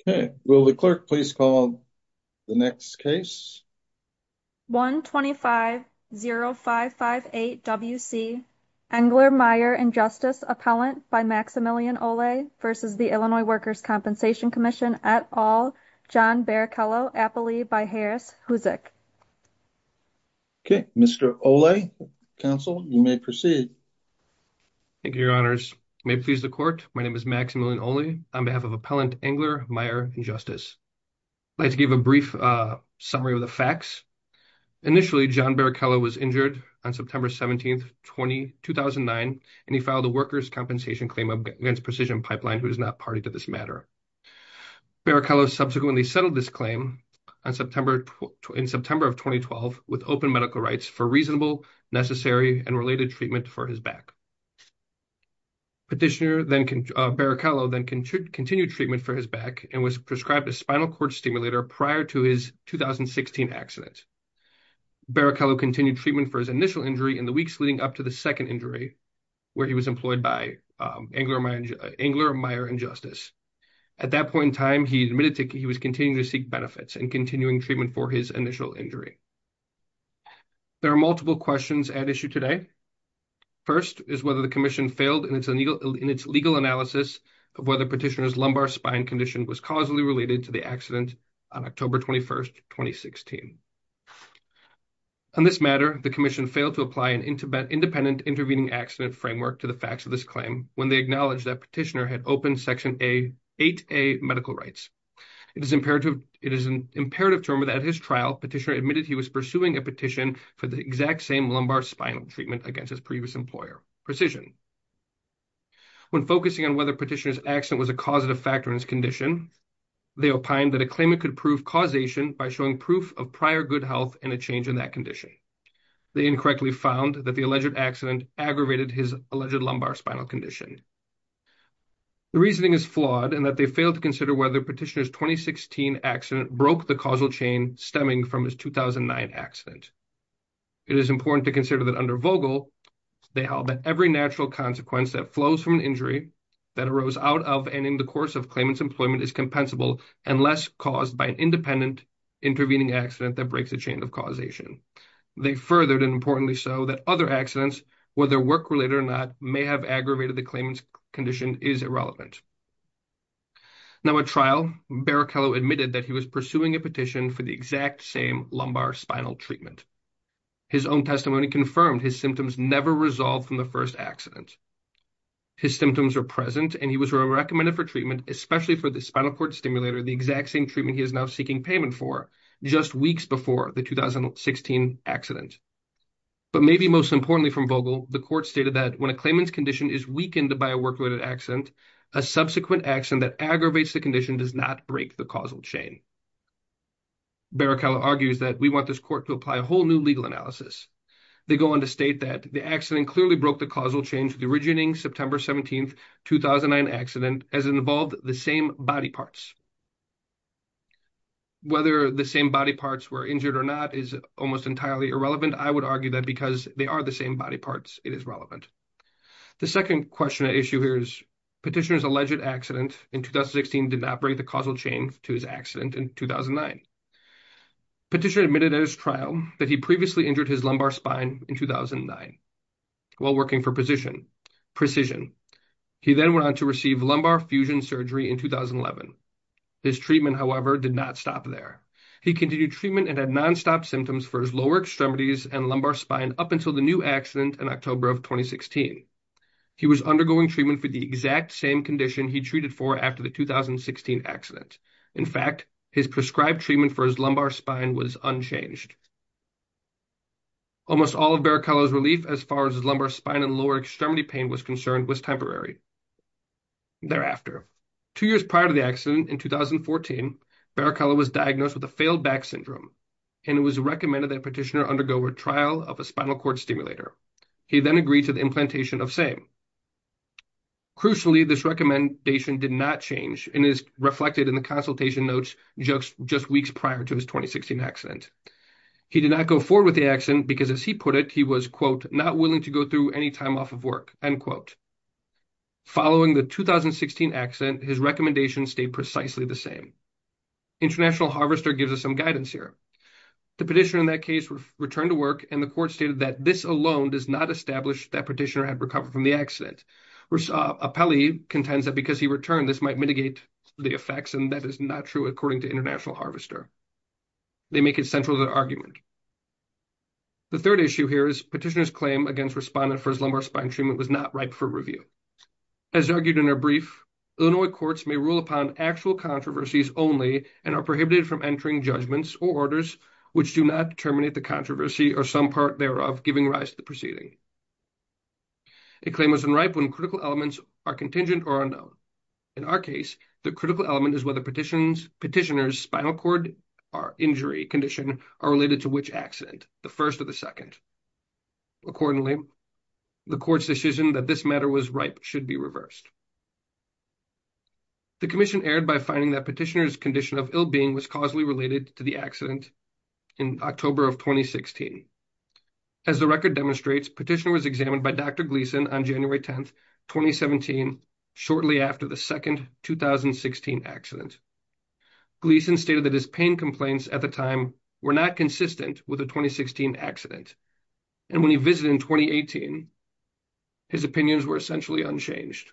Okay, will the clerk please call the next case? 1-250-558-WC Engler Meyer Injustice Appellant by Maximilian Olle versus the Illinois Workers' Compensation Comm'n et al., John Barrichello, Appali by Harris Huzik. Okay, Mr. Olle, counsel, you may proceed. Thank you, your honors. May it please the court, my name is Maximilian Olle on behalf of Appellant Engler Meyer Injustice. I'd like to give a brief summary of the facts. Initially, John Barrichello was injured on September 17, 2009, and he filed a workers' compensation claim against Precision Pipeline, who is not party to this matter. Barrichello subsequently settled this claim in September of 2012 with open medical rights for reasonable, necessary, and related treatment for his back. Petitioner Barrichello then continued treatment for his back and was prescribed a spinal cord stimulator prior to his 2016 accident. Barrichello continued treatment for his initial injury in the weeks leading up to the second injury, where he was employed by Engler Meyer Injustice. At that point in time, he admitted that he was continuing to seek benefits and continuing treatment for his in his legal analysis of whether Petitioner's lumbar spine condition was causally related to the accident on October 21, 2016. On this matter, the commission failed to apply an independent intervening accident framework to the facts of this claim when they acknowledged that Petitioner had open Section 8A medical rights. It is an imperative term that at his trial, Petitioner admitted he was pursuing a petition for the exact same lumbar spinal treatment against his previous employer. Precision. When focusing on whether Petitioner's accident was a causative factor in his condition, they opined that a claimant could prove causation by showing proof of prior good health and a change in that condition. They incorrectly found that the alleged accident aggravated his alleged lumbar spinal condition. The reasoning is flawed and that they failed to consider whether Petitioner's 2016 accident broke the causal chain stemming from his 2009 accident. It is important to consider that under Vogel, they held that every natural consequence that flows from an injury that arose out of and in the course of claimant's employment is compensable unless caused by an independent intervening accident that breaks the chain of causation. They furthered and importantly so that other accidents, whether work-related or not, may have aggravated the claimant's condition is irrelevant. Now at trial, Barrichello admitted that he was pursuing a petition for the exact same lumbar spinal treatment. His own testimony confirmed his symptoms never resolved from the first accident. His symptoms are present and he was recommended for treatment, especially for the spinal cord stimulator, the exact same treatment he is now seeking payment for just weeks before the 2016 accident. But maybe most importantly from Vogel, the court stated that when a claimant's condition is weakened by a work-related accident, a subsequent accident that aggravates the condition does not break the causal chain. Barrichello argues that we want this court to apply a whole new legal analysis. They go on to state that the accident clearly broke the causal chain to the origining September 17, 2009 accident as it involved the same body parts. Whether the same body parts were injured or not is almost entirely irrelevant. I would argue that because they are the same body parts it is relevant. The second question I issue here is petitioner's alleged accident in 2016 did not break the causal chain to his accident in 2009. Petitioner admitted at his trial that he previously injured his lumbar spine in 2009 while working for Precision. He then went on to receive lumbar fusion surgery in 2011. His treatment however did not stop there. He continued treatment and had non-stop symptoms for his lower extremities and lumbar spine up until the new accident in October of 2016. He was undergoing treatment for the exact same condition he treated for after the 2016 accident. In fact, his prescribed treatment for his lumbar spine was unchanged. Almost all of Barrichello's relief as far as his lumbar spine and lower extremity pain was concerned was temporary. Thereafter, two years prior to the accident in 2014, Barrichello was diagnosed with a failed back syndrome and it was recommended that petitioner undergo a trial of a spinal cord stimulator. He then agreed to the implantation of same. Crucially, this recommendation did not change and is reflected in the consultation notes just weeks prior to his 2016 accident. He did not go forward with the accident because as he put it, he was quote, not willing to go through any time off of work, end quote. Following the 2016 accident, his recommendation stayed precisely the same. International Harvester gives us some guidance here. The petitioner in that case returned to work and the court stated that this alone does not establish that petitioner had recovered from the accident. Appellee contends that because he returned, this might mitigate the effects and that is not true according to International Harvester. They make it central to their argument. The third issue here is petitioner's claim against respondent for his lumbar spine treatment was not ripe for review. As argued in their brief, Illinois courts may rule upon actual controversies only and are prohibited from entering judgments which do not terminate the controversy or some part thereof giving rise to the proceeding. A claim is unripe when critical elements are contingent or unknown. In our case, the critical element is whether petitioner's spinal cord or injury condition are related to which accident, the first or the second. Accordingly, the court's decision that this matter was ripe should be reversed. The commission erred by finding that petitioner's condition of being was causally related to the accident in October of 2016. As the record demonstrates, petitioner was examined by Dr. Gleason on January 10, 2017, shortly after the second 2016 accident. Gleason stated that his pain complaints at the time were not consistent with the 2016 accident and when he visited in 2018, his opinions were essentially unchanged.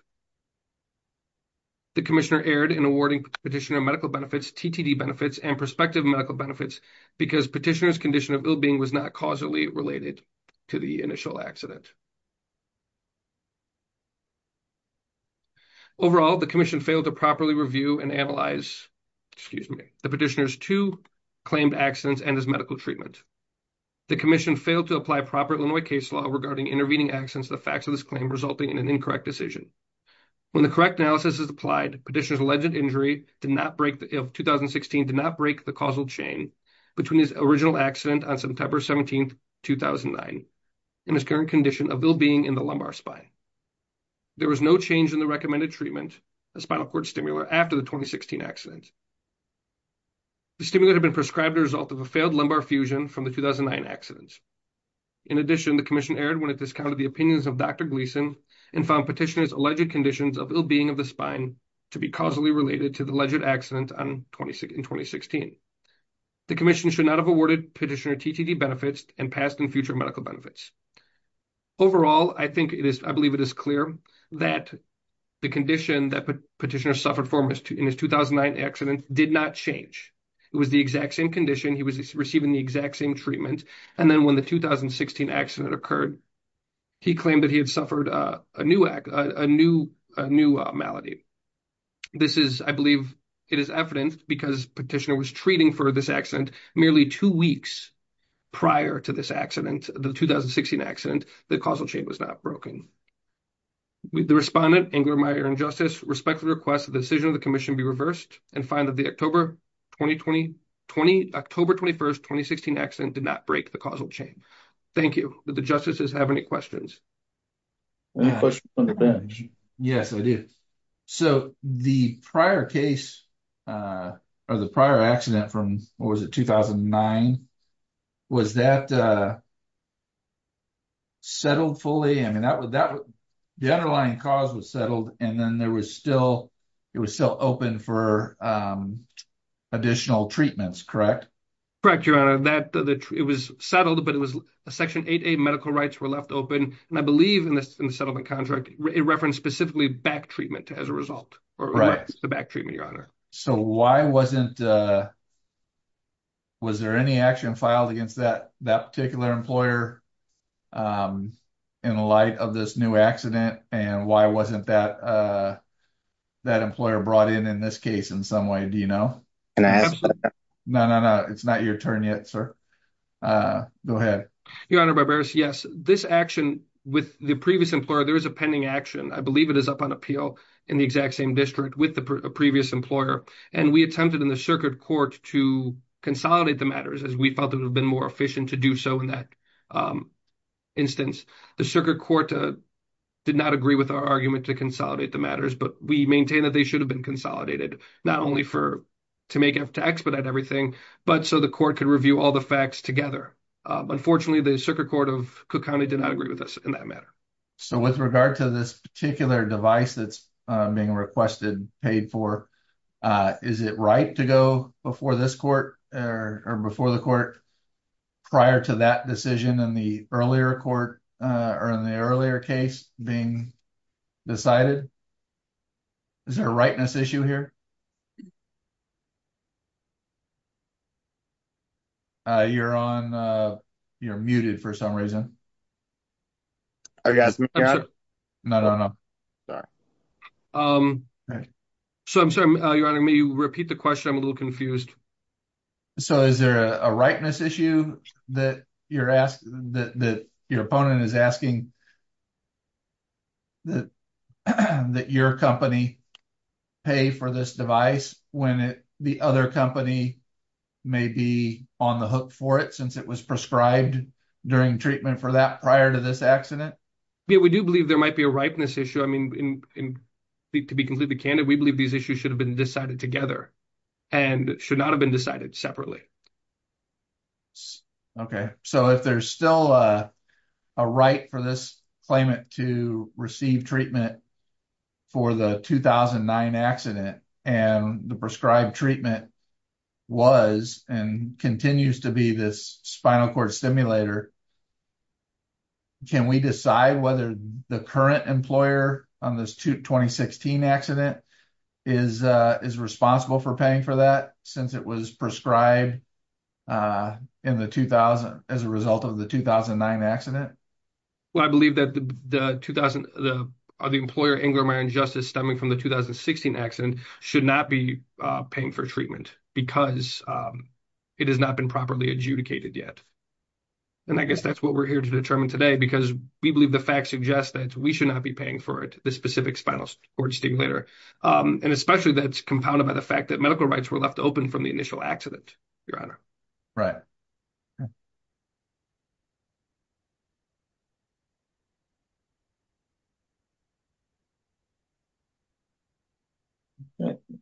The commissioner erred in awarding petitioner medical benefits, TTD benefits, and prospective medical benefits because petitioner's condition of ill-being was not causally related to the initial accident. Overall, the commission failed to properly review and analyze, excuse me, the petitioner's two claimed accidents and his medical treatment. The commission failed to apply proper Illinois case law regarding intervening accidents to the facts of this claim, resulting in an incorrect decision. When the correct analysis is applied, petitioner's alleged injury of 2016 did not break the causal chain between his original accident on September 17, 2009, and his current condition of ill-being in the lumbar spine. There was no change in the recommended treatment, a spinal cord stimulator, after the 2016 accident. The stimulator had been prescribed as a result of a failed lumbar fusion from the 2009 accident. In addition, the commission erred when it alleged conditions of ill-being of the spine to be causally related to the alleged accident in 2016. The commission should not have awarded petitioner TTD benefits and past and future medical benefits. Overall, I think it is, I believe it is clear that the condition that petitioner suffered from in his 2009 accident did not change. It was the exact same condition, he was receiving the exact same treatment, and then when the 2016 accident occurred, he claimed that he had suffered a new, a new, a new malady. This is, I believe, it is evident because petitioner was treating for this accident merely two weeks prior to this accident, the 2016 accident, the causal chain was not broken. The respondent, Ingrid Meyer and Justice, respectfully request that the decision of the commission be reversed and find that the October 2020, October 21st, 2016 accident did not break the causal chain. Thank you. The justice have any questions? Any questions on the bench? Yes, I do. So, the prior case, or the prior accident from, what was it, 2009, was that settled fully? I mean, that would, that would, the underlying cause was settled, and then there was still, it was still open for additional treatments, correct? Correct, it was settled, but it was Section 8A medical rights were left open, and I believe in the settlement contract, it referenced specifically back treatment as a result, or the back treatment, your honor. So, why wasn't, was there any action filed against that particular employer in light of this new accident, and why wasn't that employer brought in in this case in some way, do you know? No, no, no, it's not your turn yet, sir. Go ahead. Your honor, barbarous, yes, this action with the previous employer, there is a pending action, I believe it is up on appeal in the exact same district with the previous employer, and we attempted in the circuit court to consolidate the matters as we felt it would have been more efficient to do so in that instance. The circuit court did not agree with our argument to consolidate the matters, but we maintain that they should have been consolidated, not only to expedite everything, but so the court could review all the facts together. Unfortunately, the circuit court of Cook County did not agree with us in that matter. So, with regard to this particular device that's being requested, paid for, is it right to go before this court, or before the court, prior to that decision in the earlier court, or in the earlier case being decided? Is there a rightness issue here? You're on, you're muted for some reason. No, no, no. So, I'm sorry, your honor, may you repeat the question? I'm a little confused. So, is there a rightness issue that you're asking, that your opponent is asking that your company pay for this device when the other company may be on the hook for it, since it was prescribed during treatment for that prior to this accident? Yeah, we do believe there might be a rightness issue. I mean, to be completely candid, we believe these issues should have been decided together, and should not have been decided separately. Okay. So, if there's still a right for this claimant to receive treatment for the 2009 accident, and the prescribed treatment was, and continues to be, this spinal cord stimulator, can we decide whether the current employer on this 2016 accident is responsible for paying for that, since it was prescribed in the 2000, as a result of the 2009 accident? Well, I believe that the employer, Ingram Iron Justice, stemming from the 2016 accident, should not be paying for treatment, because it has not been properly adjudicated yet. And I guess that's what we're here to determine today, because we believe the facts suggest that we should not be paying for it, the specific spinal cord stimulator. And especially that's compounded by the fact that medical rights were left open from the initial accident, Your Honor. Right.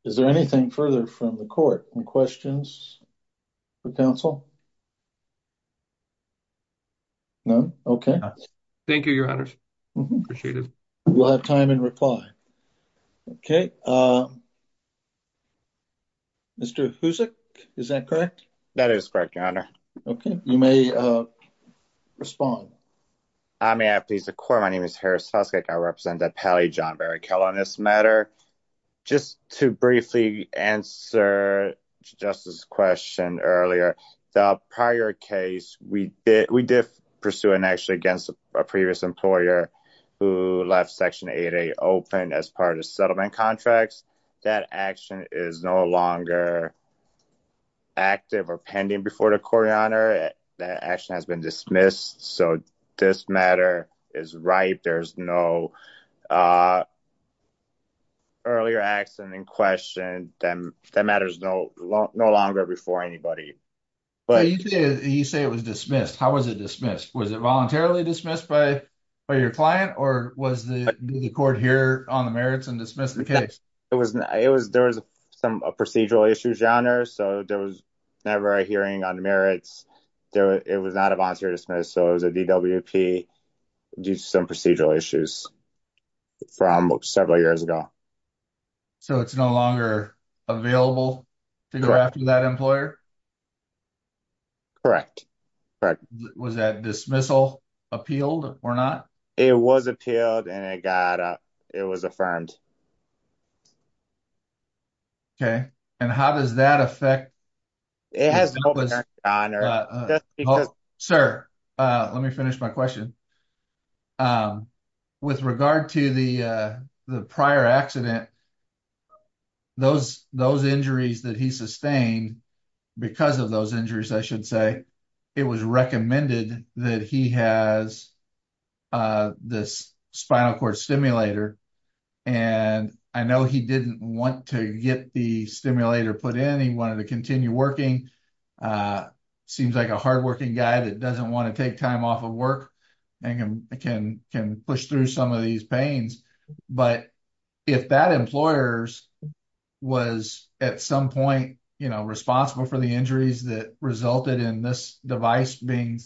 Is there anything further from the court, any questions for counsel? No? Okay. Thank you, Your Honors. Appreciate it. We'll have time in reply. Okay. Mr. Huzik, is that correct? That is correct, Your Honor. Okay. You may respond. I may have, please, the court. My name is Harris Huskak. I represent the appellee, John Barry Keller. On this matter, just to briefly answer Justice's question earlier, the prior case, we did pursue an action against a previous employer who left Section 8A open as part of settlement contracts. That action is no longer active or pending before the court, Your Honor. That action has been dismissed, so this matter is ripe. There's no earlier accident in question. That matter is no longer before anybody. You say it was dismissed. How was it dismissed? Was it voluntarily dismissed by your client, or did the court hear on the merits and dismiss the case? There was a procedural issue, Your Honor, so there was never a hearing on merits. It was not a voluntary dismiss, so it was a DWP due to some procedural issues from several years ago. So it's no longer available to go after that employer? Correct. Was that dismissal appealed or not? It was appealed, and it was affirmed. Okay, and how does that affect... It has no merit, Your Honor. Sir, let me finish my question. With regard to the prior accident, those injuries that he sustained, because of those injuries, I should say, it was recommended that he has this spinal cord stimulator, and I know he didn't want to get the stimulator put in. He wanted to continue working. He seems like a hardworking guy that doesn't want to take time off of work and can push through some of these pains, but if that employer was at some point responsible for the injuries that resulted in this device being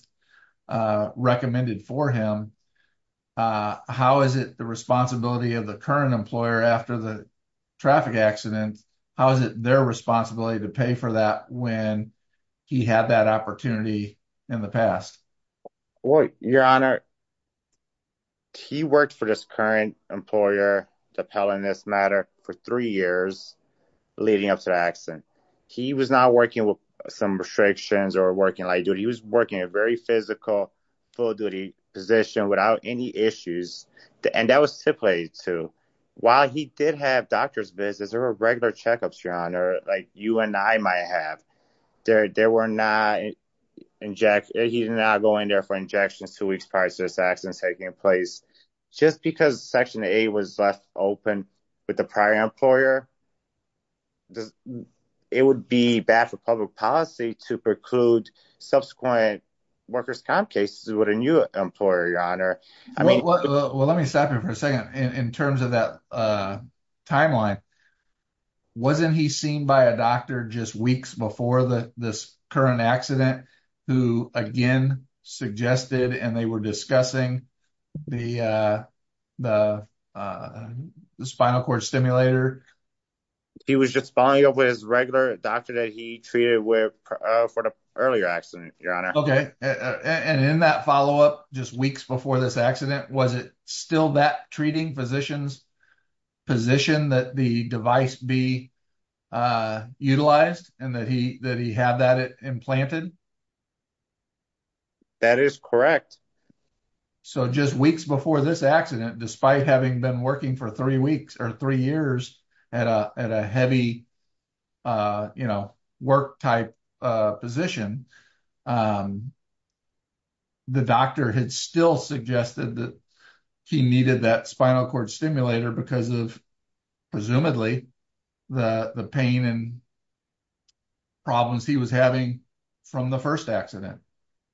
recommended for him, how is it the responsibility of the current employer after the traffic accident, how is it their responsibility to pay for that when he had that opportunity in the past? Your Honor, he worked for this current employer, the appellant in this matter, for three years leading up to the accident. He was not working with some restrictions or working light duty. He was working a very physical, full-duty position without any issues, and that was too. While he did have doctor's visits, there were regular checkups, Your Honor, like you and I might have. He did not go in there for injections two weeks prior to this accident taking place. Just because Section 8 was left open with the prior employer, it would be bad for public policy to preclude subsequent workers' comp cases with a new employer, Your Honor. Well, let me stop you for a second. In terms of that timeline, wasn't he seen by a doctor just weeks before this current accident who, again, suggested and they were discussing the spinal cord stimulator? He was just following up with his regular doctor that he treated for the earlier accident, Your Honor. Okay, and in that follow-up just weeks before this accident, was it still that treating physician's position that the device be utilized and that he had that implanted? That is correct. So just weeks before this accident, despite having been working for three years at a heavy work-type position, the doctor had still suggested that he needed that spinal cord stimulator because of, presumably, the pain and problems he was having from the first accident.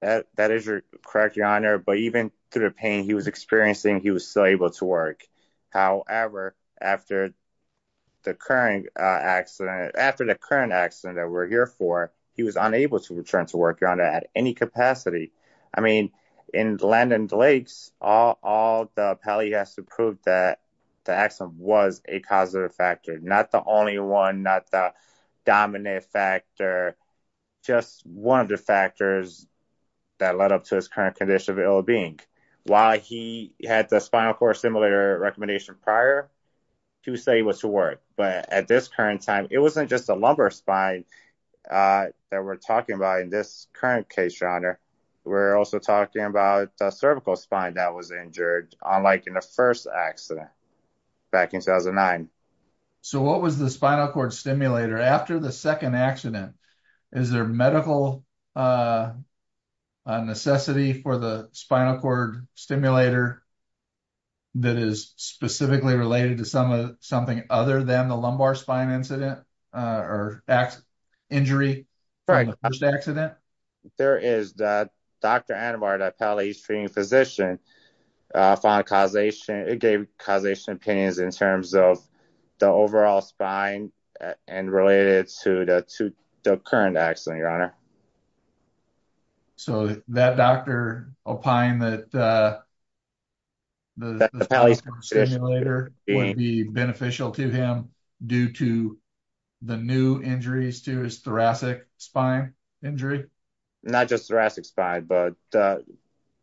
That is correct, Your Honor, but even through the pain he was experiencing, he was still able to work. However, after the current accident that we're here for, he was unable to return to work, Your Honor, at any capacity. I mean, in Landon Lakes, all the appellee has to prove that the accident was a causative factor, not the only one, not the dominant factor, just one of the factors that led up to his current condition of ill-being. While he had the spinal cord stimulator recommendation prior, he was able to work, but at this current time, it wasn't just a lumbar spine that we're talking about in this current case, Your Honor. We're also talking about a cervical spine that was injured, unlike in the first accident back in 2009. So what was the spinal cord stimulator after the second accident? Is there medical necessity for the spinal cord stimulator that is specifically related to something other than the lumbar spine injury from the first accident? There is. Dr. Anabart, the appellee's treating physician, gave causation opinions in terms of the overall spine and related to the current accident, Your Honor. So that doctor opined that the stimulator would be beneficial to him due to the new injuries to his thoracic spine injury? Not just thoracic spine, but the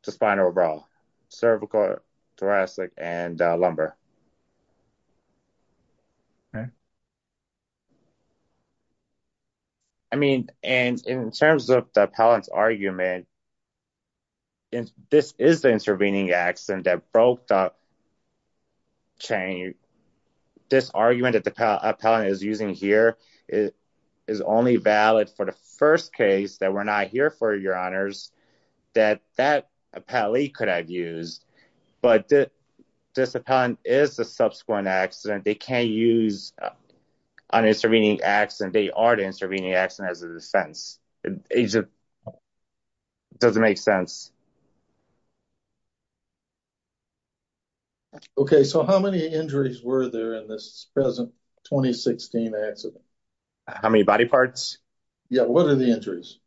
spinal overall, cervical, thoracic, and lumbar. I mean, in terms of the appellant's argument, this is the intervening accident that broke the chain. This argument that the appellant is using here is only valid for the first case, that we're not here for, Your Honors, that that appellee could have used. But this appellant is the subsequent accident. They can't use an intervening accident. They are the intervening accident as a defense. It just doesn't make sense. Okay, so how many injuries were there in this 2016 accident? How many body parts? Yeah, what are the injuries?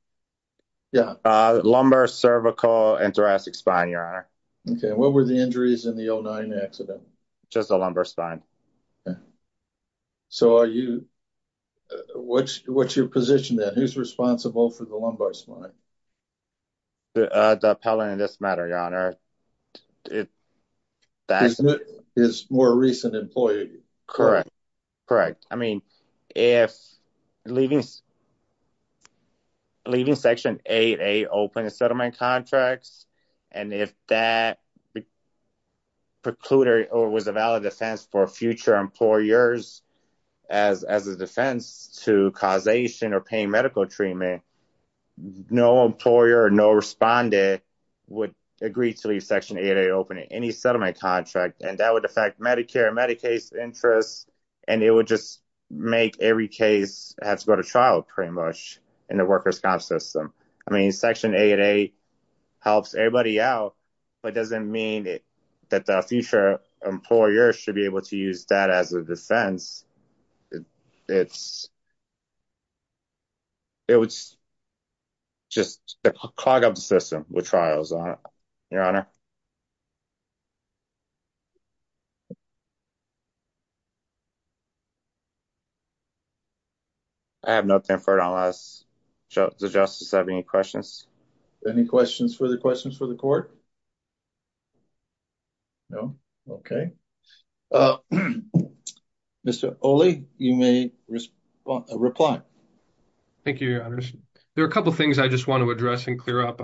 Lumbar, cervical, and thoracic spine, Your Honor. Okay, what were the injuries in the 2009 accident? Just the lumbar spine. So what's your position then? Who's responsible for the lumbar spine? The appellant in this matter, Your Honor, is a more recent employee. Correct, correct. I mean, if leaving Section 8A open settlement contracts, and if that precluded or was a valid defense for future would agree to leave Section 8A open in any settlement contract, and that would affect Medicare and Medicaid's interests, and it would just make every case have to go to trial pretty much in the worker's comp system. I mean, Section 8A helps everybody out, but doesn't mean that the future employer should be able to use that as a defense. It would just clog up the system with trials, Your Honor. I have nothing for it unless the justice have any questions. Any questions for the questions for the court? No? Okay. Mr. Oley, you may reply. Thank you, Your Honors. There are a couple things I just want to address and clear up.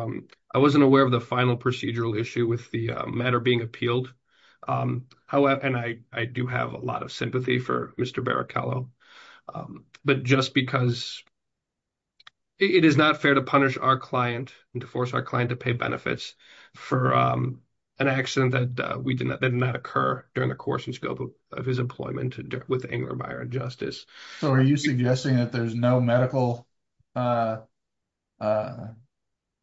I wasn't aware of the final procedural issue with the matter being appealed, and I do have a lot of sympathy for Mr. Barrichello, but just because it is not fair to punish our client and to force our client to pay benefits for an accident that did not occur during the course and scope of his employment with Engler Meyer and Justice. So are you suggesting that there's no medical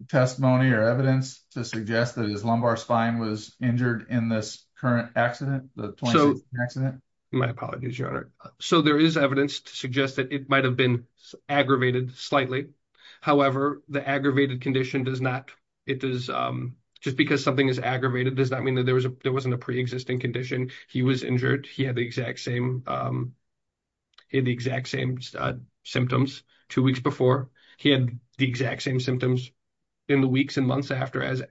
testimony or evidence to suggest that his lumbar spine was injured in this current accident, the 2016 accident? My apologies, Your Honor. So there is evidence to suggest that it might have been aggravated slightly. However, the aggravated condition does not, it does, just because something is aggravated does not mean that there wasn't a pre-existing condition. He was injured. He had the exact same symptoms two weeks before. He had the exact same symptoms in the weeks and months after, as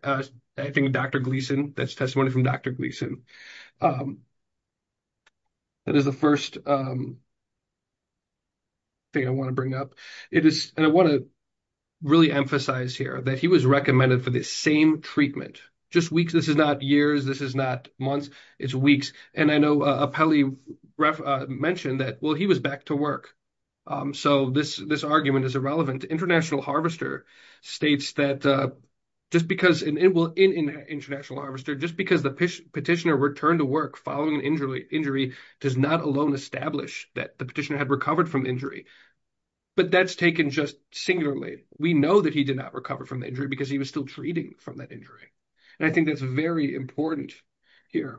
I think Dr. Gleason, that's testimony from Dr. Gleason. That is the first thing I want to bring up. And I want to really emphasize here that he was recommended for the same treatment, just weeks. This is not years. This is not months. It's weeks. And I know Apelli mentioned that, well, he was back to work. So this argument is irrelevant. International Harvester states that just because, well, in International Harvester, just because the petitioner returned to work following an injury does not alone establish that the petitioner had recovered from injury. But that's taken just singularly. We know that he did not recover from injury because he was still treating from that injury. And I think that's very important here.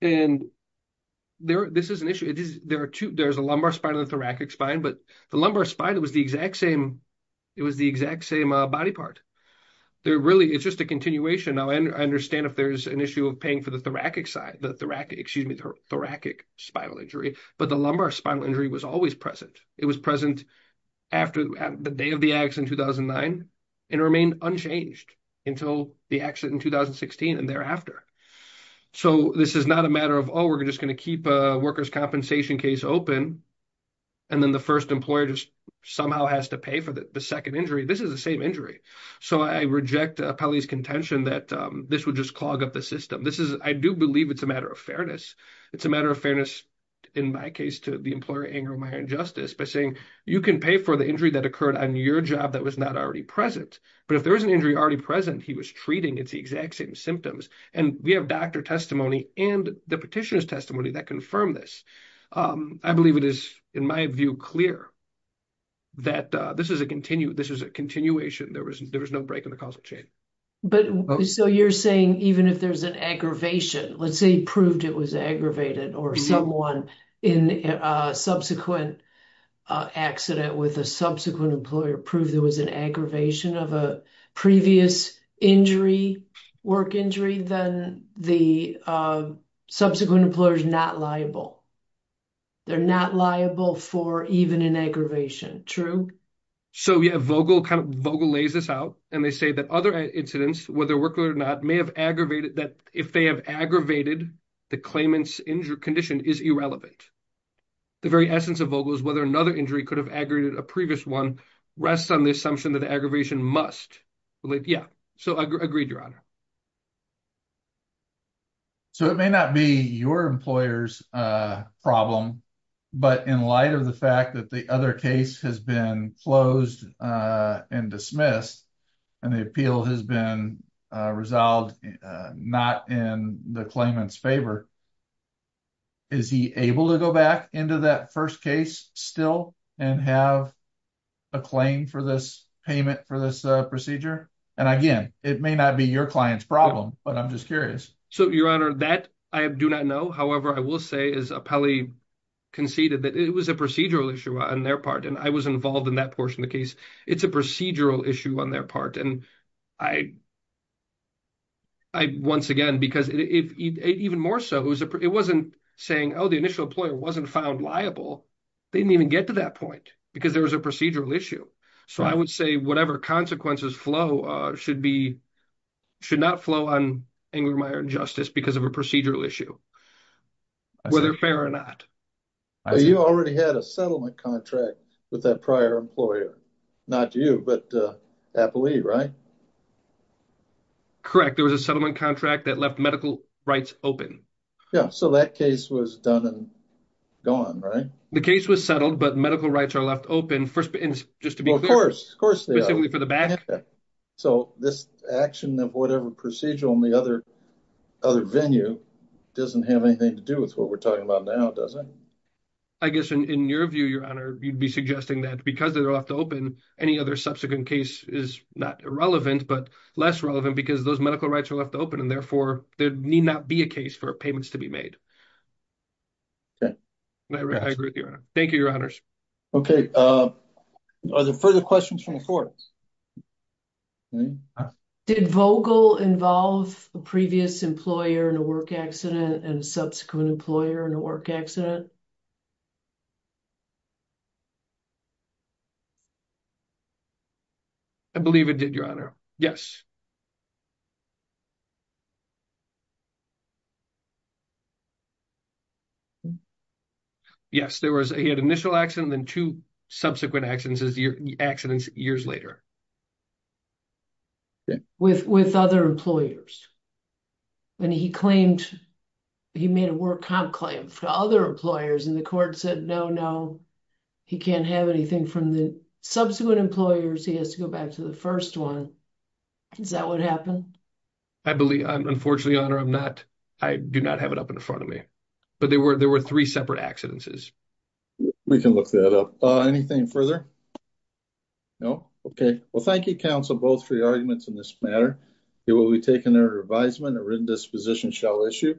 And there, this is an issue. There are two, there's a lumbar spine and thoracic spine, but the lumbar spine, it was the exact same, it was the exact same body part. There really, it's just a continuation. I understand if there's an issue of paying for the thoracic side, the thoracic, excuse me, thoracic spinal injury, but the lumbar spinal injury was always present. It was present after the day of the accident in 2009 and remained unchanged until the accident in 2016 and thereafter. So this is not a matter of, oh, we're just going to keep a workers' compensation case open and then the first employer just somehow has to pay for the second injury. This is the same injury. So I reject Apelli's contention that this would just clog up the system. This is, I do believe it's a matter of fairness. It's a matter of fairness, in my case, to the employer, Anger, Justice, by saying, you can pay for the injury that occurred on your job that was not already present. But if there was an injury already present, he was treating, it's the exact same symptoms. And we have doctor testimony and the petitioner's testimony that confirmed this. I believe it is, in my view, clear that this is a continuation. There was no break in the causal chain. But so you're saying even if there's an aggravation, let's say he proved it was aggravated or someone in a subsequent accident with a subsequent employer proved there was an aggravation of a previous injury, work injury, then the subsequent employer is not liable. They're not liable for even an aggravation. True? So yeah, Vogel kind of lays this out. And they say that other incidents, whether worker or not, may have aggravated that, if they have aggravated the claimant's injury condition is irrelevant. The very essence of Vogel is whether another injury could have aggravated a previous one rests on the assumption that the aggravation must relate. Yeah. So I agreed, Your Honor. So it may not be your employer's problem. But in light of the fact that the other case has been closed and dismissed, and the appeal has been resolved, not in the claimant's favor, is he able to go back into that first case still and have a claim for this payment for this procedure? And again, it may not be your client's problem, but I'm just curious. So, Your Honor, that I do not know. However, I will say as Apelli conceded that it was a procedural issue on their part. And I was involved in that portion of the case. It's a procedural issue on their part. And I, once again, because even more so, it wasn't saying, oh, the initial employer wasn't found liable. They didn't even get to that point because there was a procedural issue. So I would say whatever consequences flow should not flow on Ingrameyer and Justice because of a procedural issue, whether fair or not. You already had a settlement contract with that prior employer, not you, but Apelli, right? Correct. There was a settlement contract that left medical rights open. Yeah. So that case was done and gone, right? The case was settled, but medical rights are left open. First, just to be clear. Of course, of course. So this action of whatever procedural in the other venue doesn't have anything to do with what we're talking about now, does it? I guess in your view, Your Honor, you'd be suggesting that because they're left open, any other subsequent case is not irrelevant, but less relevant because those medical rights are left open and therefore there need not be a case for payments to be made. I agree with you, Your Honor. Thank you, Your Honors. Okay. Are there further questions from the courts? Did Vogel involve a previous employer in a work accident and a subsequent employer in a work accident? I believe it did, Your Honor. Yes. Yes. He had an initial accident and then two subsequent accidents years later. With other employers. He made a work comp claim for other employers and the court said, no, no, he can't have anything from the subsequent employers. He has to go back to the first one. Is that what happened? I believe, unfortunately, Your Honor, I'm not, I do not have it up in front of me, but there were three separate accidents. We can look that up. Anything further? No? Okay. Well, thank you, counsel, both for your arguments in this matter. It will be taken under advisement, a written disposition shall issue.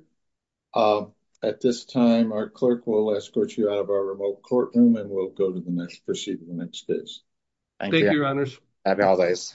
At this time, our clerk will escort you out of our remote courtroom and we'll proceed to the next case. Thank you, Your Honors.